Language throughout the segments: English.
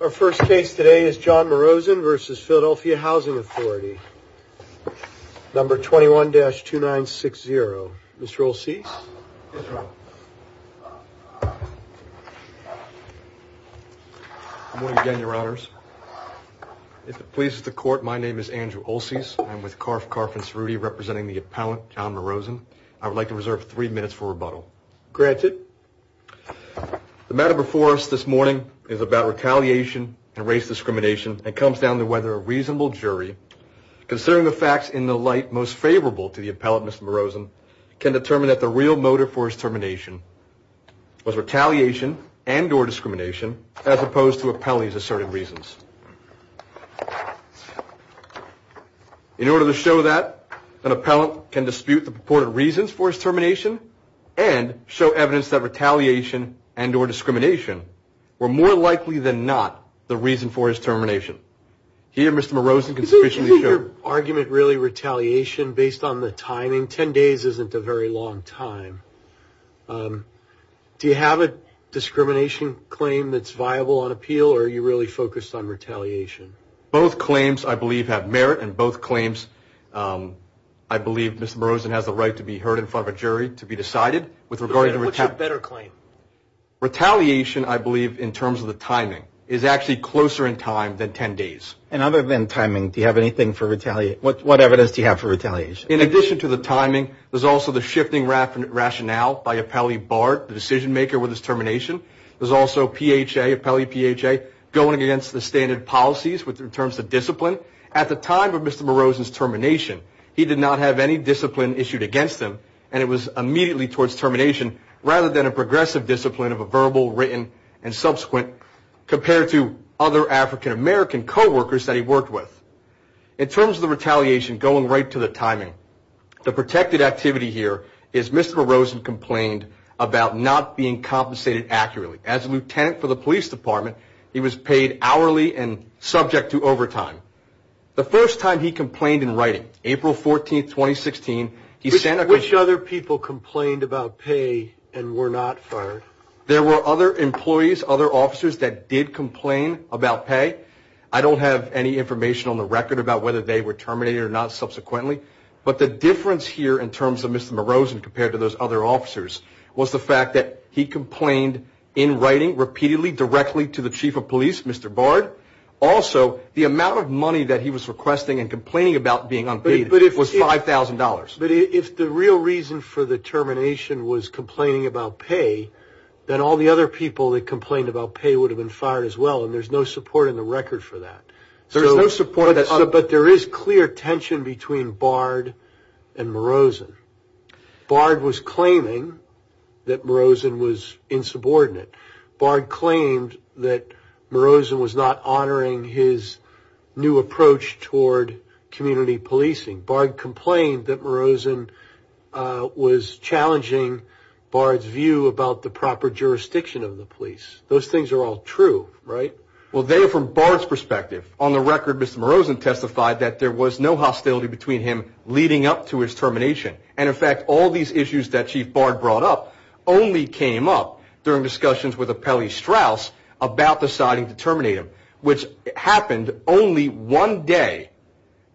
Our first case today is John Marozin v. Philadelphia Housing Authority, number 21-2960. Mr. Olseas? Good morning again, your honors. If it pleases the court, my name is Andrew Olseas. I'm with Karff, Karff & Cerruti, representing the appellant, John Marozin. I would like to reserve three minutes for rebuttal. Granted. The matter before us this morning is about retaliation and race discrimination and comes down to whether a reasonable jury, considering the facts in the light most favorable to the appellant, Mr. Marozin, can determine that the real motive for his termination was retaliation and or discrimination as opposed to appellee's asserted reasons. In order to show that, an appellant can dispute the purported reasons for his termination and show evidence that retaliation and or discrimination were more likely than not the reason for his termination. Here, Mr. Marozin can sufficiently show... Is your argument really retaliation based on the timing? Ten days isn't a very long time. Do you have a discrimination claim that's viable on appeal or are you really focused on retaliation? Both claims, I believe, have merit and both claims, I believe Mr. Marozin has the right to be heard in front of a jury to be decided. What's your better claim? Retaliation, I believe, in terms of the timing, is actually closer in time than ten days. And other than timing, do you have anything for retaliation? What evidence do you have for retaliation? In addition to the timing, there's also the shifting rationale by appellee Bart, the decision maker with his termination. There's also PHA, appellee PHA, going against the standard policies in terms of discipline. At the time of Mr. Marozin's termination, he did not have any discipline issued against him and it was immediately towards termination rather than a progressive discipline of a verbal, written, and subsequent compared to other African American co-workers that he worked with. In terms of the retaliation, going right to the timing, the protected activity here is Mr. Marozin complained about not being compensated accurately. As a lieutenant for the police department, he was paid hourly and subject to overtime. The first time he complained in writing, April 14, 2016, he sent a complaint. Which other people complained about pay and were not fired? There were other employees, other officers that did complain about pay. I don't have any information on the record about whether they were terminated or not subsequently, but the difference here in terms of Mr. Marozin compared to those other officers was the fact that he complained in writing repeatedly directly to the chief of police, Mr. Bard. Also, the amount of money that he was requesting and complaining about being unpaid was $5,000. But if the real reason for the termination was complaining about pay, then all the other people that complained about pay would have been fired as well and there's no support in the record for that. There is no support. But there is clear tension between Bard and Marozin. Bard was claiming that Marozin was insubordinate. Bard claimed that Marozin was not honoring his new approach toward community policing. Bard complained that Marozin was challenging Bard's view about the proper jurisdiction of the police. Those things are all true, right? Well, they are from Bard's perspective. On the record, Mr. Marozin testified that there was no hostility between him leading up to his termination. And in fact, all these issues that Chief Bard brought up only came up during discussions with Apelli Strauss about deciding to terminate him, which happened only one day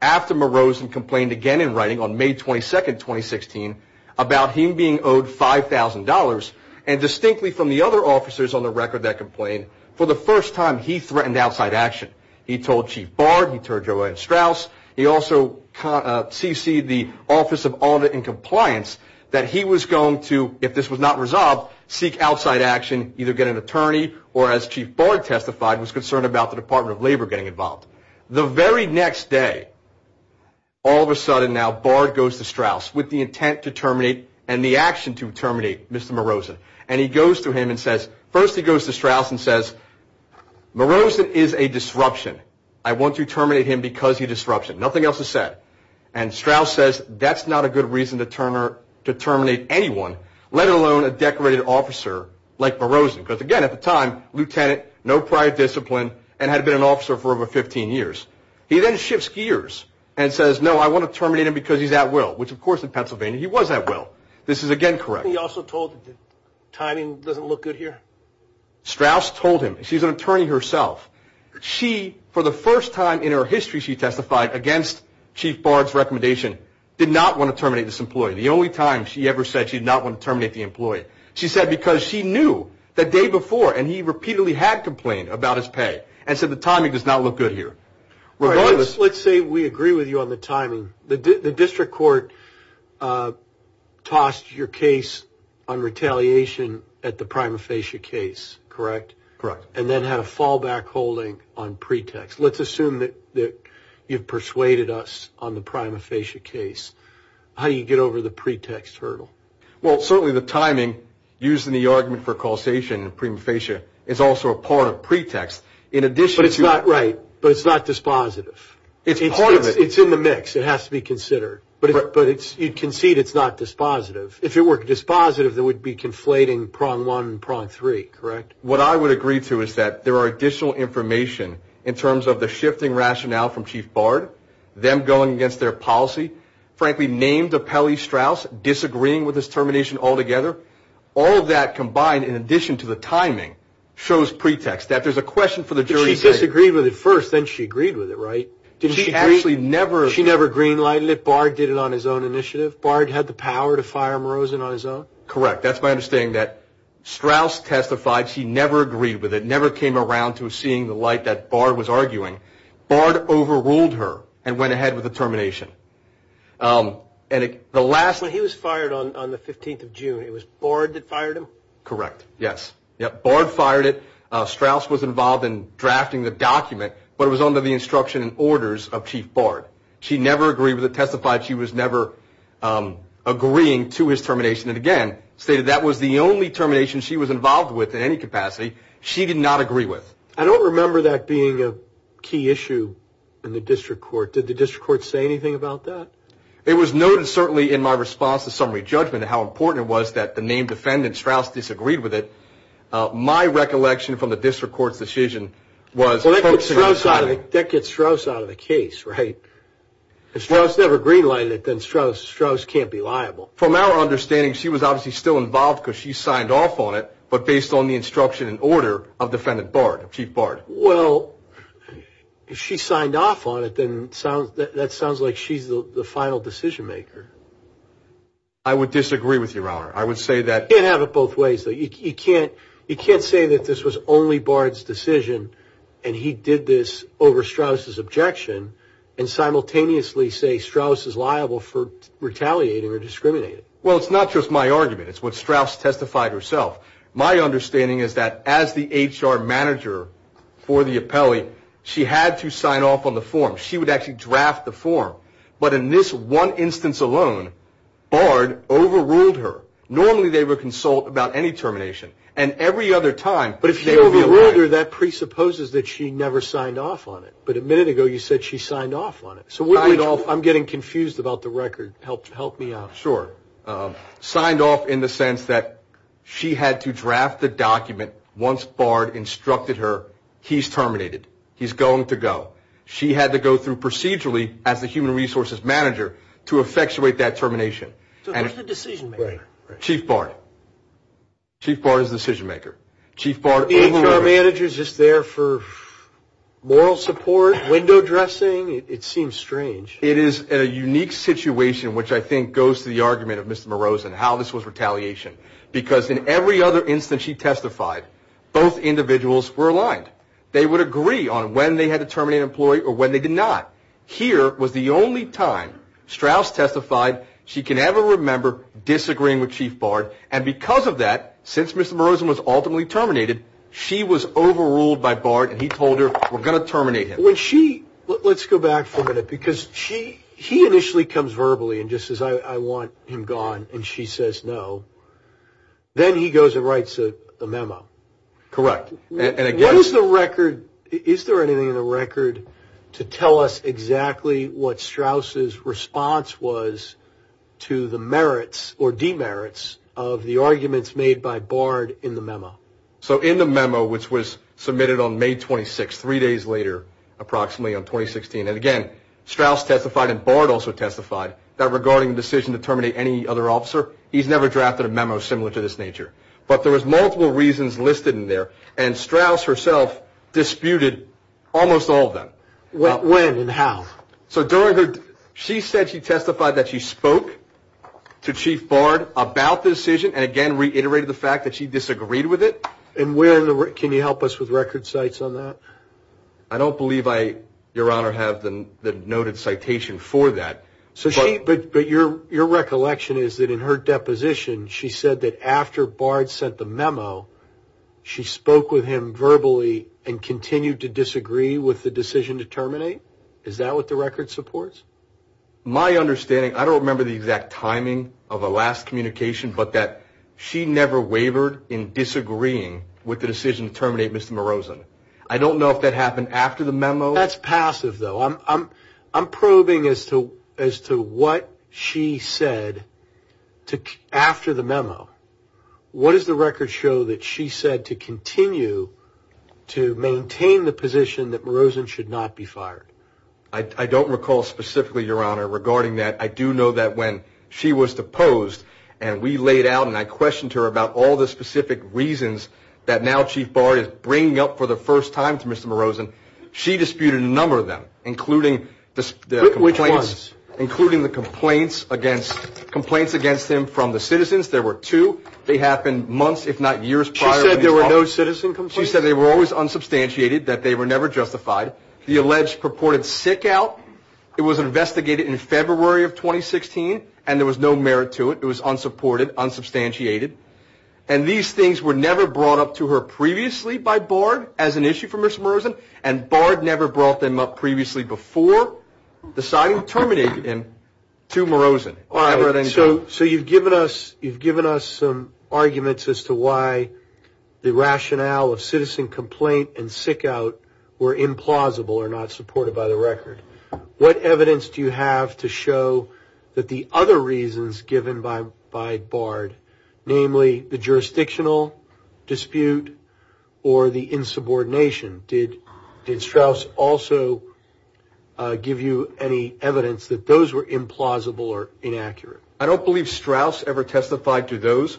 after Marozin complained again in writing on May 22, 2016, about him being owed $5,000 and distinctly from the other officers on the record that complained, for the first time he threatened outside action. He told Chief Bard, he told Joanne Strauss, he also CC'd the Office of Audit and Compliance, that he was going to, if this was not resolved, seek outside action, either get an attorney or, as Chief Bard testified, was concerned about the Department of Labor getting involved. The very next day, all of a sudden now, Bard goes to Strauss with the intent to terminate and the action to terminate Mr. Marozin. And he goes to him and says, first he goes to Strauss and says, Marozin is a disruption. I want to terminate him because he's a disruption. Nothing else is said. And Strauss says, that's not a good reason to terminate anyone, let alone a decorated officer like Marozin. Because, again, at the time, lieutenant, no prior discipline, and had been an officer for over 15 years. He then shifts gears and says, no, I want to terminate him because he's at will. Which, of course, in Pennsylvania he was at will. This is, again, correct. He also told, the timing doesn't look good here. Strauss told him. She's an attorney herself. She, for the first time in her history, she testified against Chief Bard's recommendation, did not want to terminate this employee. The only time she ever said she did not want to terminate the employee. She said because she knew the day before, and he repeatedly had complained about his pay, and said the timing does not look good here. Let's say we agree with you on the timing. The district court tossed your case on retaliation at the prima facie case, correct? Correct. And then had a fallback holding on pretext. Let's assume that you've persuaded us on the prima facie case. How do you get over the pretext hurdle? Well, certainly the timing used in the argument for causation in prima facie is also a part of pretext. But it's not right. But it's not dispositive. It's part of it. It's in the mix. It has to be considered. But you'd concede it's not dispositive. If it were dispositive, there would be conflating prong one and prong three, correct? What I would agree to is that there are additional information in terms of the shifting rationale from Chief Bard, them going against their policy, frankly named Appellee Strauss disagreeing with this termination altogether. All of that combined, in addition to the timing, shows pretext. That there's a question for the jury to take. But she disagreed with it first, then she agreed with it, right? She never green-lighted it. Bard did it on his own initiative. Bard had the power to fire Mrozin on his own. Correct. That's my understanding that Strauss testified. She never agreed with it, never came around to seeing the light that Bard was arguing. Bard overruled her and went ahead with the termination. He was fired on the 15th of June. It was Bard that fired him? Correct, yes. Bard fired it. Strauss was involved in drafting the document. But it was under the instruction and orders of Chief Bard. She never agreed with it, testified she was never agreeing to his termination, and again stated that was the only termination she was involved with in any capacity she did not agree with. I don't remember that being a key issue in the district court. Did the district court say anything about that? It was noted certainly in my response to summary judgment how important it was that the named defendant, Strauss, disagreed with it. My recollection from the district court's decision was Well, that gets Strauss out of the case, right? If Strauss never green-lighted it, then Strauss can't be liable. From our understanding, she was obviously still involved because she signed off on it, but based on the instruction and order of defendant Bard, Chief Bard. Well, if she signed off on it, then that sounds like she's the final decision-maker. I would disagree with you, Your Honor. I would say that You can't have it both ways. You can't say that this was only Bard's decision, and he did this over Strauss' objection, and simultaneously say Strauss is liable for retaliating or discriminating. Well, it's not just my argument. It's what Strauss testified herself. My understanding is that as the HR manager for the appellee, she had to sign off on the form. She would actually draft the form. But in this one instance alone, Bard overruled her. Normally, they would consult about any termination, and every other time they would realize But if you overrule her, that presupposes that she never signed off on it. But a minute ago, you said she signed off on it. So I'm getting confused about the record. Help me out. Sure. Signed off in the sense that she had to draft the document. Once Bard instructed her, he's terminated. He's going to go. She had to go through procedurally as the human resources manager to effectuate that termination. So who's the decision-maker? Chief Bard. Chief Bard is the decision-maker. Chief Bard overruled her. The HR manager is just there for moral support, window dressing. It seems strange. It is a unique situation, which I think goes to the argument of Mr. Moroz and how this was retaliation. Because in every other instance she testified, both individuals were aligned. They would agree on when they had to terminate an employee or when they did not. Here was the only time Strauss testified she can ever remember disagreeing with Chief Bard. And because of that, since Mr. Moroz was ultimately terminated, she was overruled by Bard, and he told her, we're going to terminate him. Let's go back for a minute. Because he initially comes verbally and just says, I want him gone, and she says no. Then he goes and writes a memo. Correct. What is the record? Is there anything in the record to tell us exactly what Strauss' response was to the merits or demerits of the arguments made by Bard in the memo? So in the memo, which was submitted on May 26th, three days later, approximately on 2016, and again, Strauss testified and Bard also testified that regarding the decision to terminate any other officer, he's never drafted a memo similar to this nature. But there was multiple reasons listed in there, and Strauss herself disputed almost all of them. When and how? She said she testified that she spoke to Chief Bard about the decision and, again, reiterated the fact that she disagreed with it. Can you help us with record cites on that? I don't believe I, Your Honor, have the noted citation for that. But your recollection is that in her deposition, she said that after Bard sent the memo, she spoke with him verbally and continued to disagree with the decision to terminate? Is that what the record supports? My understanding, I don't remember the exact timing of the last communication, but that she never wavered in disagreeing with the decision to terminate Mr. Merozan. I don't know if that happened after the memo. That's passive, though. I'm probing as to what she said after the memo. What does the record show that she said to continue to maintain the position that Merozan should not be fired? I don't recall specifically, Your Honor, regarding that. I do know that when she was deposed and we laid out and I questioned her about all the specific reasons that now Chief Bard is bringing up for the first time to Mr. Merozan, she disputed a number of them, including the complaints against him from the citizens. There were two. They happened months, if not years prior. She said there were no citizen complaints? She said they were always unsubstantiated, that they were never justified. The alleged purported sick out, it was investigated in February of 2016, and there was no merit to it. It was unsupported, unsubstantiated. And these things were never brought up to her previously by Bard as an issue for Mr. Merozan, and Bard never brought them up previously before the signing terminated him to Merozan. All right. So you've given us some arguments as to why the rationale of citizen complaint and sick out were implausible or not supported by the record. What evidence do you have to show that the other reasons given by Bard, namely the jurisdictional dispute or the insubordination, did Strauss also give you any evidence that those were implausible or inaccurate? I don't believe Strauss ever testified to those.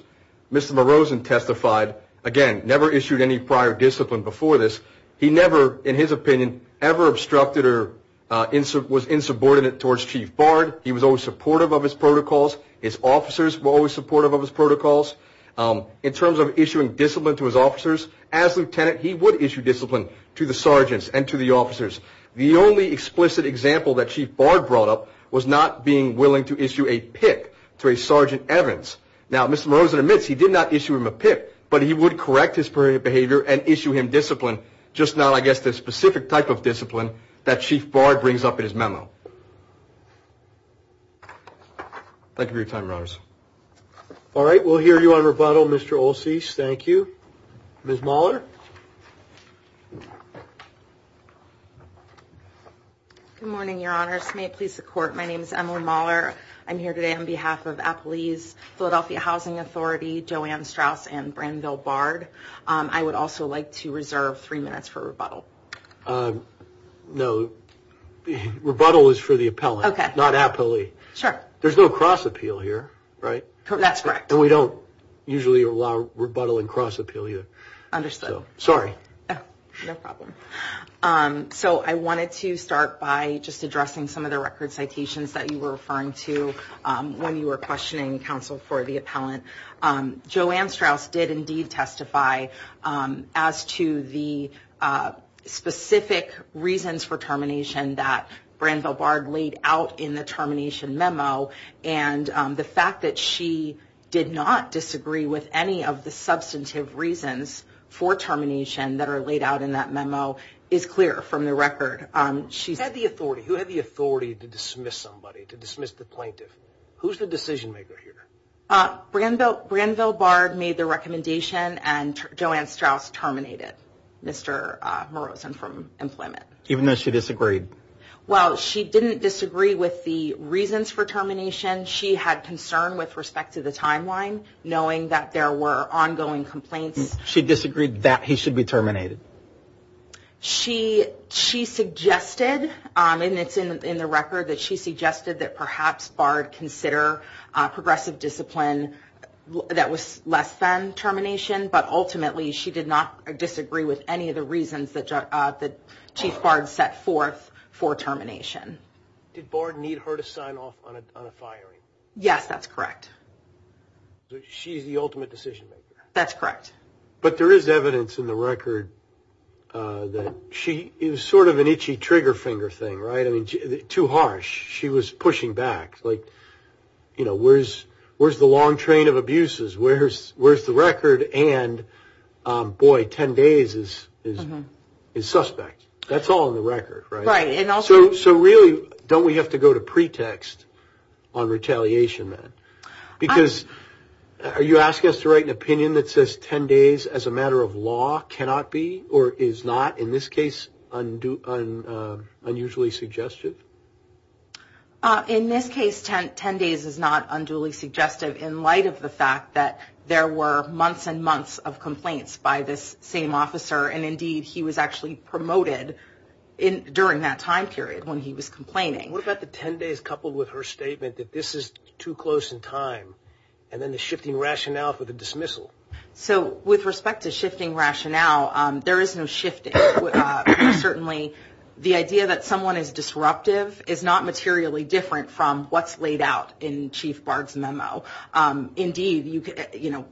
Mr. Merozan testified, again, never issued any prior discipline before this. He never, in his opinion, ever obstructed or was insubordinate towards Chief Bard. He was always supportive of his protocols. His officers were always supportive of his protocols. In terms of issuing discipline to his officers, as lieutenant, he would issue discipline to the sergeants and to the officers. The only explicit example that Chief Bard brought up was not being willing to issue a PIP to a Sergeant Evans. Now, Mr. Merozan admits he did not issue him a PIP, but he would correct his behavior and issue him discipline, just not, I guess, the specific type of discipline that Chief Bard brings up in his memo. Thank you for your time, Your Honors. All right, we'll hear you on rebuttal, Mr. Olseas. Thank you. Ms. Mahler? Good morning, Your Honors. May it please the Court, my name is Emily Mahler. I'm here today on behalf of Appaloose, Philadelphia Housing Authority, Joanne Strauss, and Branville Bard. I would also like to reserve three minutes for rebuttal. No, rebuttal is for the appellant, not Appaloose. Sure. There's no cross-appeal here, right? That's correct. And we don't usually allow rebuttal and cross-appeal here. Understood. Sorry. No problem. So I wanted to start by just addressing some of the record citations that you were referring to when you were questioning counsel for the appellant. Joanne Strauss did indeed testify as to the specific reasons for termination that Branville Bard laid out in the termination memo. And the fact that she did not disagree with any of the substantive reasons for termination that are laid out in that memo is clear from the record. Who had the authority to dismiss somebody, to dismiss the plaintiff? Who's the decision-maker here? Branville Bard made the recommendation, and Joanne Strauss terminated Mr. Marozan from employment. Even though she disagreed? Well, she didn't disagree with the reasons for termination. She had concern with respect to the timeline, knowing that there were ongoing complaints. She disagreed that he should be terminated? She suggested, and it's in the record, that she suggested that perhaps Bard consider progressive discipline that was less than termination, but ultimately she did not disagree with any of the reasons that Chief Bard set forth for termination. Did Bard need her to sign off on a firing? Yes, that's correct. She's the ultimate decision-maker? That's correct. But there is evidence in the record that she – it was sort of an itchy trigger finger thing, right? I mean, too harsh. She was pushing back. Like, you know, where's the long train of abuses? Where's the record? And, boy, 10 days is suspect. That's all in the record, right? Right, and also – So really, don't we have to go to pretext on retaliation then? Because are you asking us to write an opinion that says 10 days as a matter of law cannot be, or is not, in this case, unusually suggestive? In this case, 10 days is not unduly suggestive in light of the fact that there were months and months of complaints by this same officer, and, indeed, he was actually promoted during that time period when he was complaining. What about the 10 days coupled with her statement that this is too close in time, and then the shifting rationale for the dismissal? So with respect to shifting rationale, there is no shifting. Certainly, the idea that someone is disruptive is not materially different from what's laid out in Chief Bard's memo. Indeed,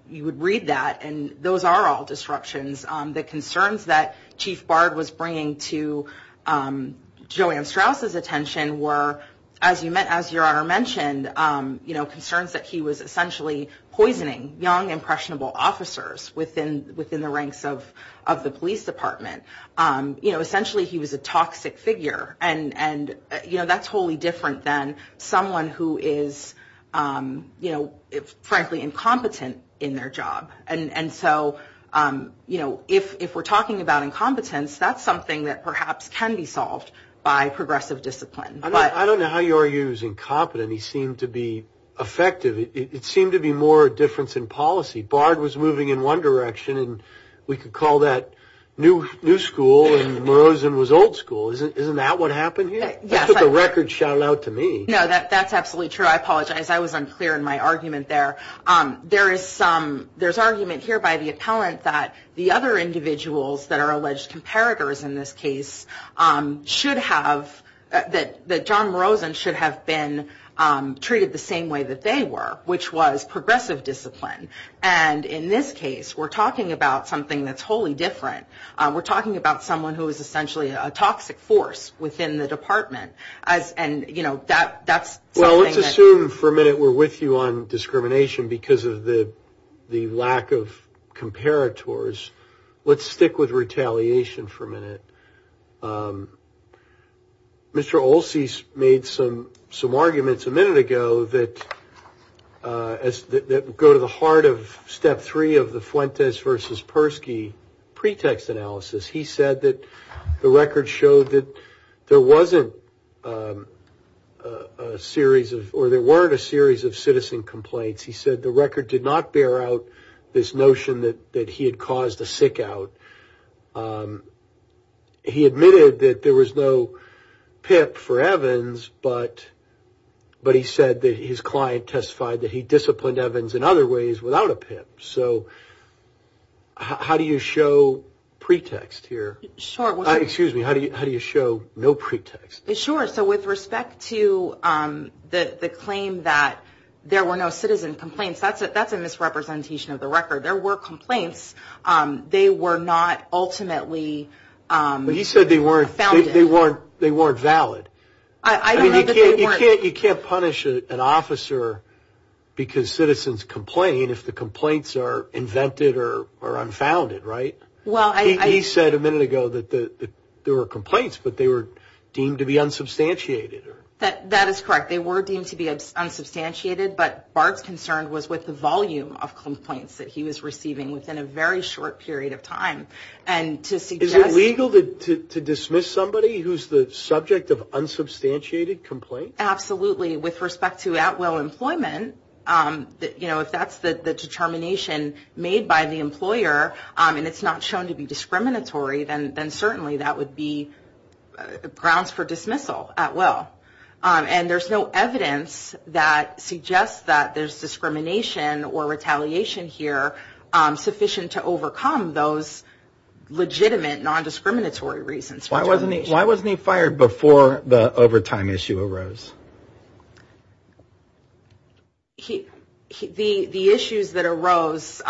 you would read that, and those are all disruptions. The concerns that Chief Bard was bringing to Joanne Strauss's attention were, as your Honor mentioned, concerns that he was essentially poisoning young, impressionable officers within the ranks of the police department. Essentially, he was a toxic figure, and that's wholly different than someone who is, frankly, incompetent in their job. And so, you know, if we're talking about incompetence, that's something that perhaps can be solved by progressive discipline. I don't know how you argue he was incompetent. He seemed to be effective. It seemed to be more a difference in policy. Bard was moving in one direction, and we could call that new school, and Morozan was old school. Isn't that what happened here? Yes. That's what the records shout out to me. No, that's absolutely true. I apologize. I was unclear in my argument there. There's argument here by the appellant that the other individuals that are alleged comparators in this case should have, that John Morozan should have been treated the same way that they were, which was progressive discipline. And in this case, we're talking about something that's wholly different. We're talking about someone who is essentially a toxic force within the department, and, you know, that's something that... because of the lack of comparators, let's stick with retaliation for a minute. Mr. Olsey made some arguments a minute ago that go to the heart of step three of the Fuentes versus Persky pretext analysis. He said that the record showed that there wasn't a series of, or there weren't a series of citizen complaints. He said the record did not bear out this notion that he had caused a sick out. He admitted that there was no PIP for Evans, but he said that his client testified that he disciplined Evans in other ways without a PIP. So how do you show pretext here? Sure. Excuse me, how do you show no pretext? Sure. So with respect to the claim that there were no citizen complaints, that's a misrepresentation of the record. There were complaints. They were not ultimately founded. I don't know that they weren't. You can't punish an officer because citizens complain if the complaints are invented or unfounded, right? He said a minute ago that there were complaints, but they were deemed to be unsubstantiated. That is correct. They were deemed to be unsubstantiated, but Bart's concern was with the volume of complaints that he was receiving within a very short period of time. Is it legal to dismiss somebody who's the subject of unsubstantiated complaints? Absolutely. With respect to at-will employment, if that's the determination made by the employer and it's not shown to be discriminatory, then certainly that would be grounds for dismissal at will. And there's no evidence that suggests that there's discrimination or retaliation here sufficient to overcome those legitimate non-discriminatory reasons. Why wasn't he fired before the overtime issue arose? The issues that arose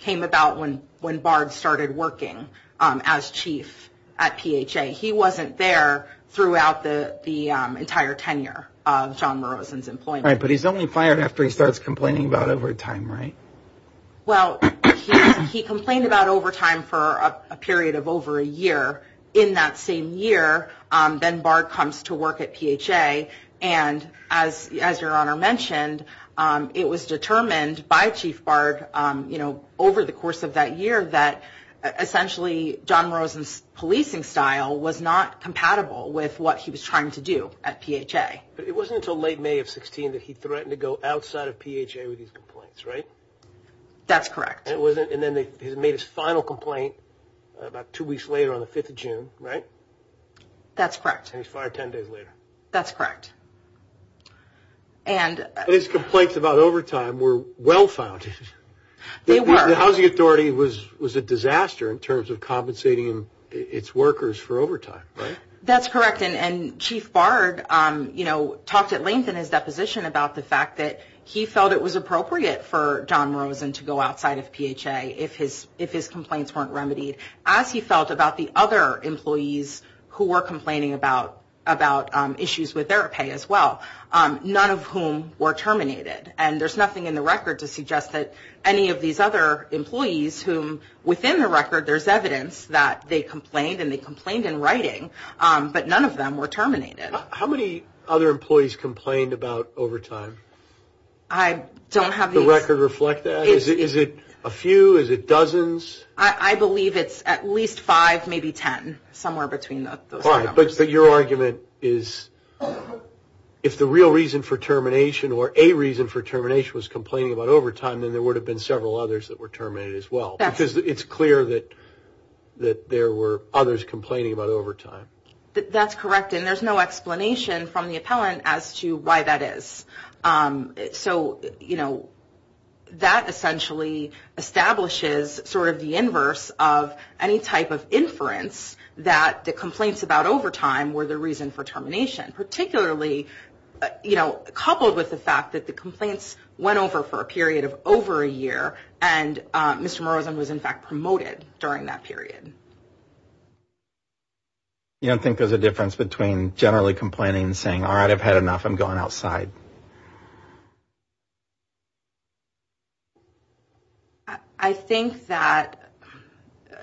came about when Bart started working as chief at PHA. He wasn't there throughout the entire tenure of John Morrison's employment. But he's only fired after he starts complaining about overtime, right? Well, he complained about overtime for a period of over a year. In that same year, then Bart comes to work at PHA. And as your Honor mentioned, it was determined by Chief Bart over the course of that year that essentially John Morrison's policing style was not compatible with what he was trying to do at PHA. But it wasn't until late May of 16 that he threatened to go outside of PHA with his complaints, right? That's correct. And then he made his final complaint about two weeks later on the 5th of June, right? That's correct. And he's fired 10 days later. That's correct. And his complaints about overtime were well-founded. They were. The Housing Authority was a disaster in terms of compensating its workers for overtime, right? That's correct. And Chief Bart, you know, talked at length in his deposition about the fact that he felt it was appropriate for John Morrison to go outside of PHA if his complaints weren't remedied. As he felt about the other employees who were complaining about issues with their pay as well, none of whom were terminated. And there's nothing in the record to suggest that any of these other employees whom within the record there's evidence that they complained and they complained in writing, but none of them were terminated. How many other employees complained about overtime? I don't have these. Does the record reflect that? Is it a few? Is it dozens? I believe it's at least 5, maybe 10, somewhere between those numbers. But your argument is if the real reason for termination or a reason for termination was complaining about overtime, then there would have been several others that were terminated as well. Because it's clear that there were others complaining about overtime. That's correct. And there's no explanation from the appellant as to why that is. So, you know, that essentially establishes sort of the inverse of any type of inference that the complaints about overtime were the reason for termination. Particularly, you know, coupled with the fact that the complaints went over for a period of over a year and Mr. Morrison was in fact promoted during that period. You don't think there's a difference between generally complaining and saying, all right, I've had enough, I'm going outside? I think that,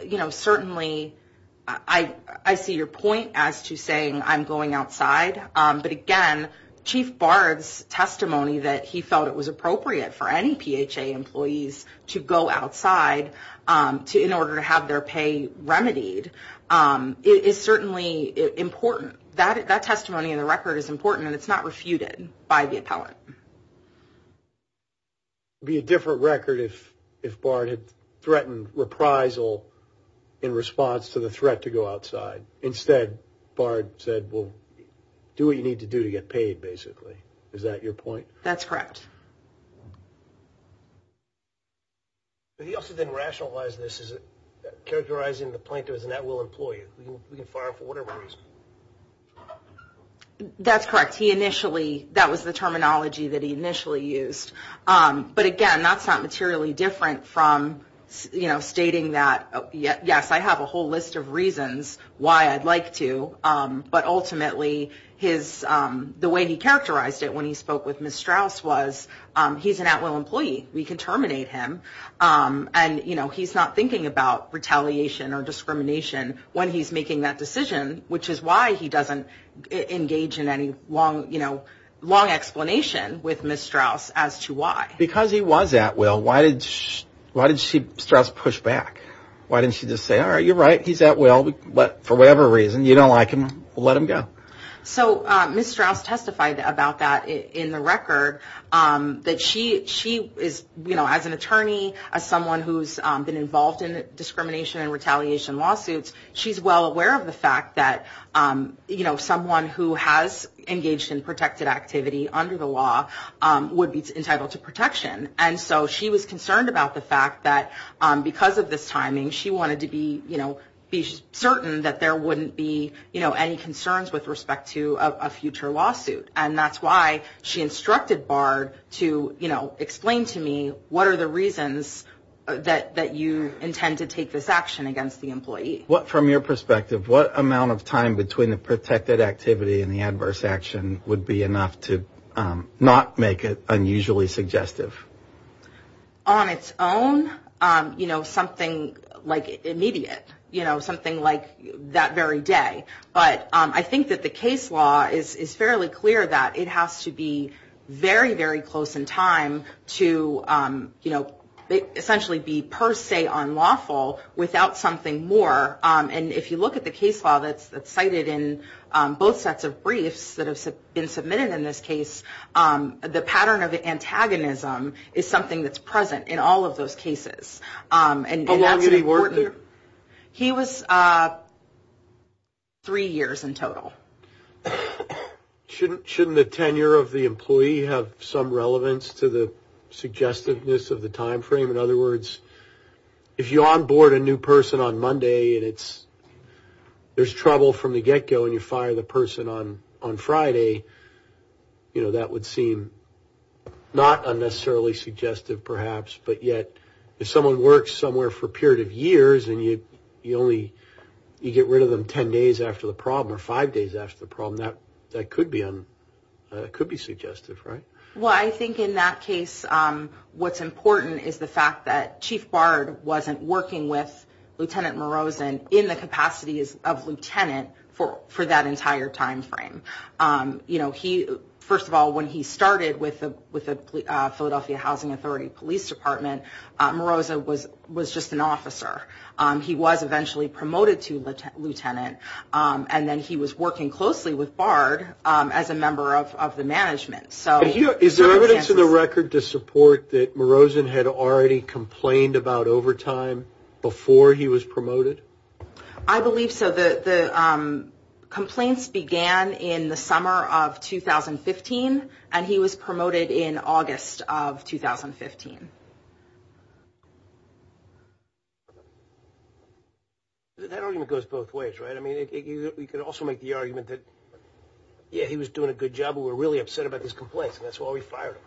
you know, certainly I see your point as to saying I'm going outside. But again, Chief Bard's testimony that he felt it was appropriate for any PHA employees to go outside in order to have their pay remedied is certainly important. That testimony in the record is important and it's not refuted by the appellant. It would be a different record if Bard had threatened reprisal in response to the threat to go outside. Instead, Bard said, well, do what you need to do to get paid, basically. Is that your point? That's correct. He also didn't rationalize this as characterizing the plaintiff as a net will employee. We can fire him for whatever reason. That's correct. He initially, that was the terminology that he initially used. But again, that's not materially different from, you know, stating that, yes, I have a whole list of reasons why I'd like to. But ultimately, the way he characterized it when he spoke with Ms. Strauss was he's an at-will employee. We can terminate him. And, you know, he's not thinking about retaliation or discrimination when he's making that decision, which is why he doesn't engage in any long, you know, long explanation with Ms. Strauss as to why. Because he was at-will, why did she, Strauss push back? Why didn't she just say, all right, you're right, he's at-will, but for whatever reason, you don't like him, we'll let him go. So Ms. Strauss testified about that in the record, that she is, you know, as an attorney, as someone who's been involved in discrimination and retaliation lawsuits, she's well aware of the fact that, you know, someone who has engaged in protected activity under the law would be entitled to protection. And so she was concerned about the fact that because of this timing, she wanted to be, you know, be certain that there wouldn't be, you know, any concerns with respect to a future lawsuit. And that's why she instructed Bard to, you know, explain to me what are the reasons that you intend to take this action against the employee. But from your perspective, what amount of time between the protected activity and the adverse action would be enough to not make it unusually suggestive? On its own, you know, something like immediate, you know, something like that very day. But I think that the case law is fairly clear that it has to be very, very close in time to, you know, essentially be per se unlawful without something more, you know, and if you look at the case law that's cited in both sets of briefs that have been submitted in this case, the pattern of antagonism is something that's present in all of those cases. How long did he work there? He was three years in total. Shouldn't the tenure of the employee have some relevance to the suggestiveness of the time frame? In other words, if you onboard a new person on Monday and it's, there's trouble from the get-go and you fire the person on Friday, you know, that would seem not unnecessarily suggestive perhaps. But yet, if someone works somewhere for a period of years and you only, you get rid of them 10 days after the problem or five days after the problem, that's a long time. That's a long time. Well, I think in that case, what's important is the fact that Chief Bard wasn't working with Lieutenant Morozo in the capacities of lieutenant for that entire time frame. You know, he, first of all, when he started with the Philadelphia Housing Authority Police Department, Morozo was just an officer. He was eventually promoted to lieutenant and then he was working closely with Bard as a member of the management. Is there evidence in the record to support that Morozo had already complained about overtime before he was promoted? I believe so. The complaints began in the summer of 2015 and he was promoted in August of 2015. That argument goes both ways, right? I mean, you could also make the argument that, yeah, he was doing a good job, but we're really upset about these complaints and that's why we fired him.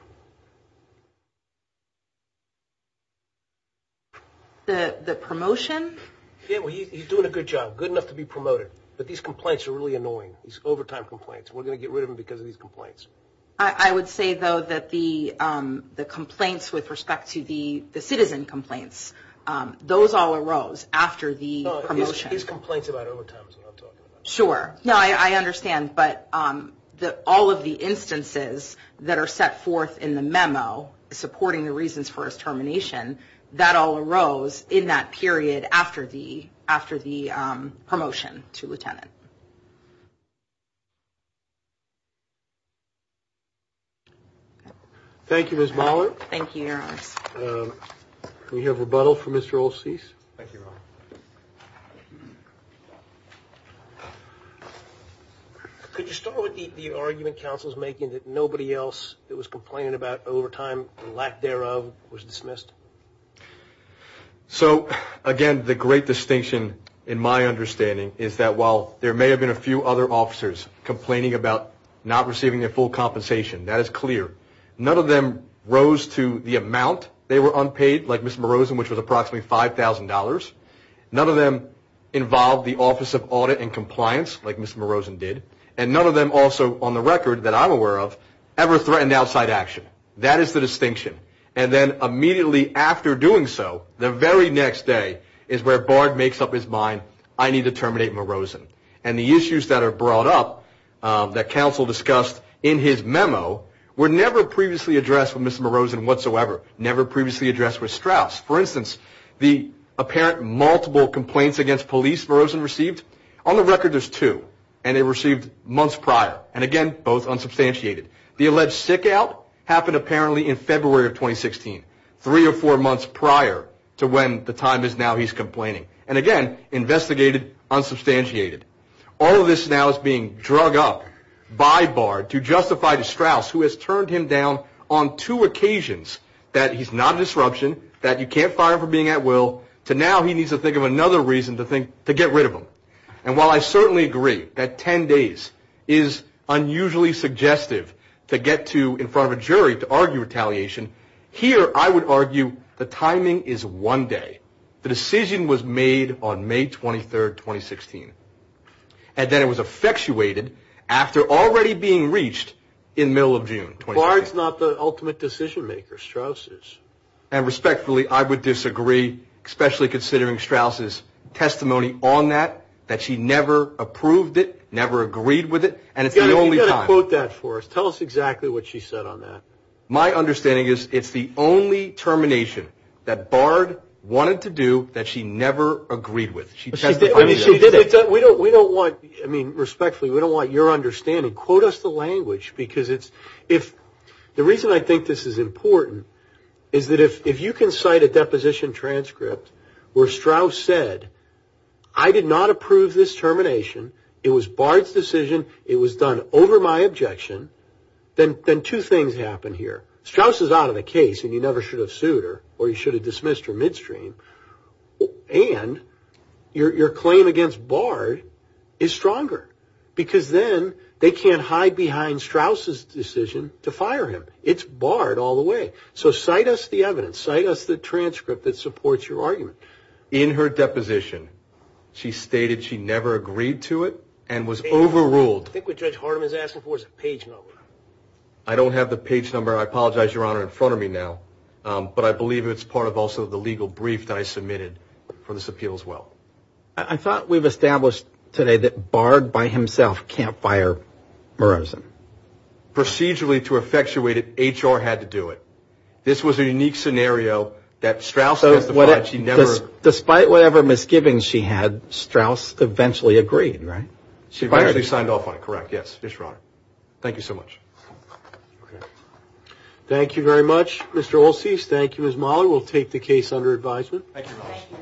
The promotion? Yeah, well, he's doing a good job, good enough to be promoted, but these complaints are really annoying, these overtime complaints. We're going to get rid of them because of these complaints. I would say, though, that the complaints with respect to the citizen complaints, those all arose after the promotion. His complaints about overtime is what I'm talking about. Sure. No, I understand, but all of the instances that are set forth in the memo supporting the reasons for his termination, that all arose in that period after the promotion to lieutenant. Thank you, Ms. Moller. Thank you. We have rebuttal from Mr. Olseas. Could you start with the argument counsel's making that nobody else that was complaining about overtime and lack thereof was dismissed? So, again, the great distinction in my understanding is that while there may have been a few other officers complaining about not receiving their full compensation, that is clear. None of them rose to the amount they were unpaid, like Ms. Morozan, which was approximately $5,000. None of them involved the Office of Audit and Compliance, like Ms. Morozan did, and none of them also on the record that I'm aware of ever threatened outside action. That is the distinction, and then immediately after doing so, the very next day is where Bard makes up his mind, I need to terminate Morozan. And the issues that are brought up that counsel discussed in his memo were never previously addressed with Ms. Morozan whatsoever, never previously addressed with Strauss. For instance, the apparent multiple complaints against police Morozan received, on the record there's two, and they were received months prior, and again, both unsubstantiated. The alleged sick out happened apparently in February of 2016, three or four months prior to when the time is now he's complaining. And again, investigated, unsubstantiated. All of this now is being drug up by Bard to justify to Strauss, who has turned him down on two occasions, that he's not a disruption, that you can't fire him for being at will, to now he needs to think of another reason to get rid of him. And while I certainly agree that ten days is unusually suggestive to get to in front of a jury to argue retaliation, here I would argue the timing is one day. The decision was made on May 23rd, 2016, and then it was effectuated after already being reached in the middle of June. Bard's not the ultimate decision maker, Strauss is. And respectfully, I would disagree, especially considering Strauss' testimony on that, that she never approved it, never agreed with it, and it's the only time. You've got to quote that for us. Tell us exactly what she said on that. My understanding is it's the only termination that Bard wanted to do that she never agreed with. She testified on that. Respectfully, we don't want your understanding. Quote us the language. The reason I think this is important is that if you can cite a deposition transcript where Strauss said, I did not approve this termination, it was Bard's decision, it was done over my objection, then two things happen here. Strauss is out of the case, and you never should have sued her, or you should have dismissed her midstream. And your claim against Bard is stronger, because then they can't hide behind Strauss' decision to fire him. It's Bard all the way. So cite us the evidence. Cite us the transcript that supports your argument. In her deposition, she stated she never agreed to it and was overruled. I think what Judge Hardeman is asking for is a page number. I don't have the page number. I apologize, Your Honor, in front of me now, but I believe it's part of also the legal brief that I submitted for this appeal as well. I thought we've established today that Bard by himself can't fire Murozen. Procedurally to effectuate it, HR had to do it. This was a unique scenario that Strauss testified. Despite whatever misgivings she had, Strauss eventually agreed, right? She eventually signed off on it, correct, yes. Yes, Your Honor. Thank you so much. Thank you very much, Mr. Olseas. Thank you, Ms. Mahler. We'll take the case under advisement.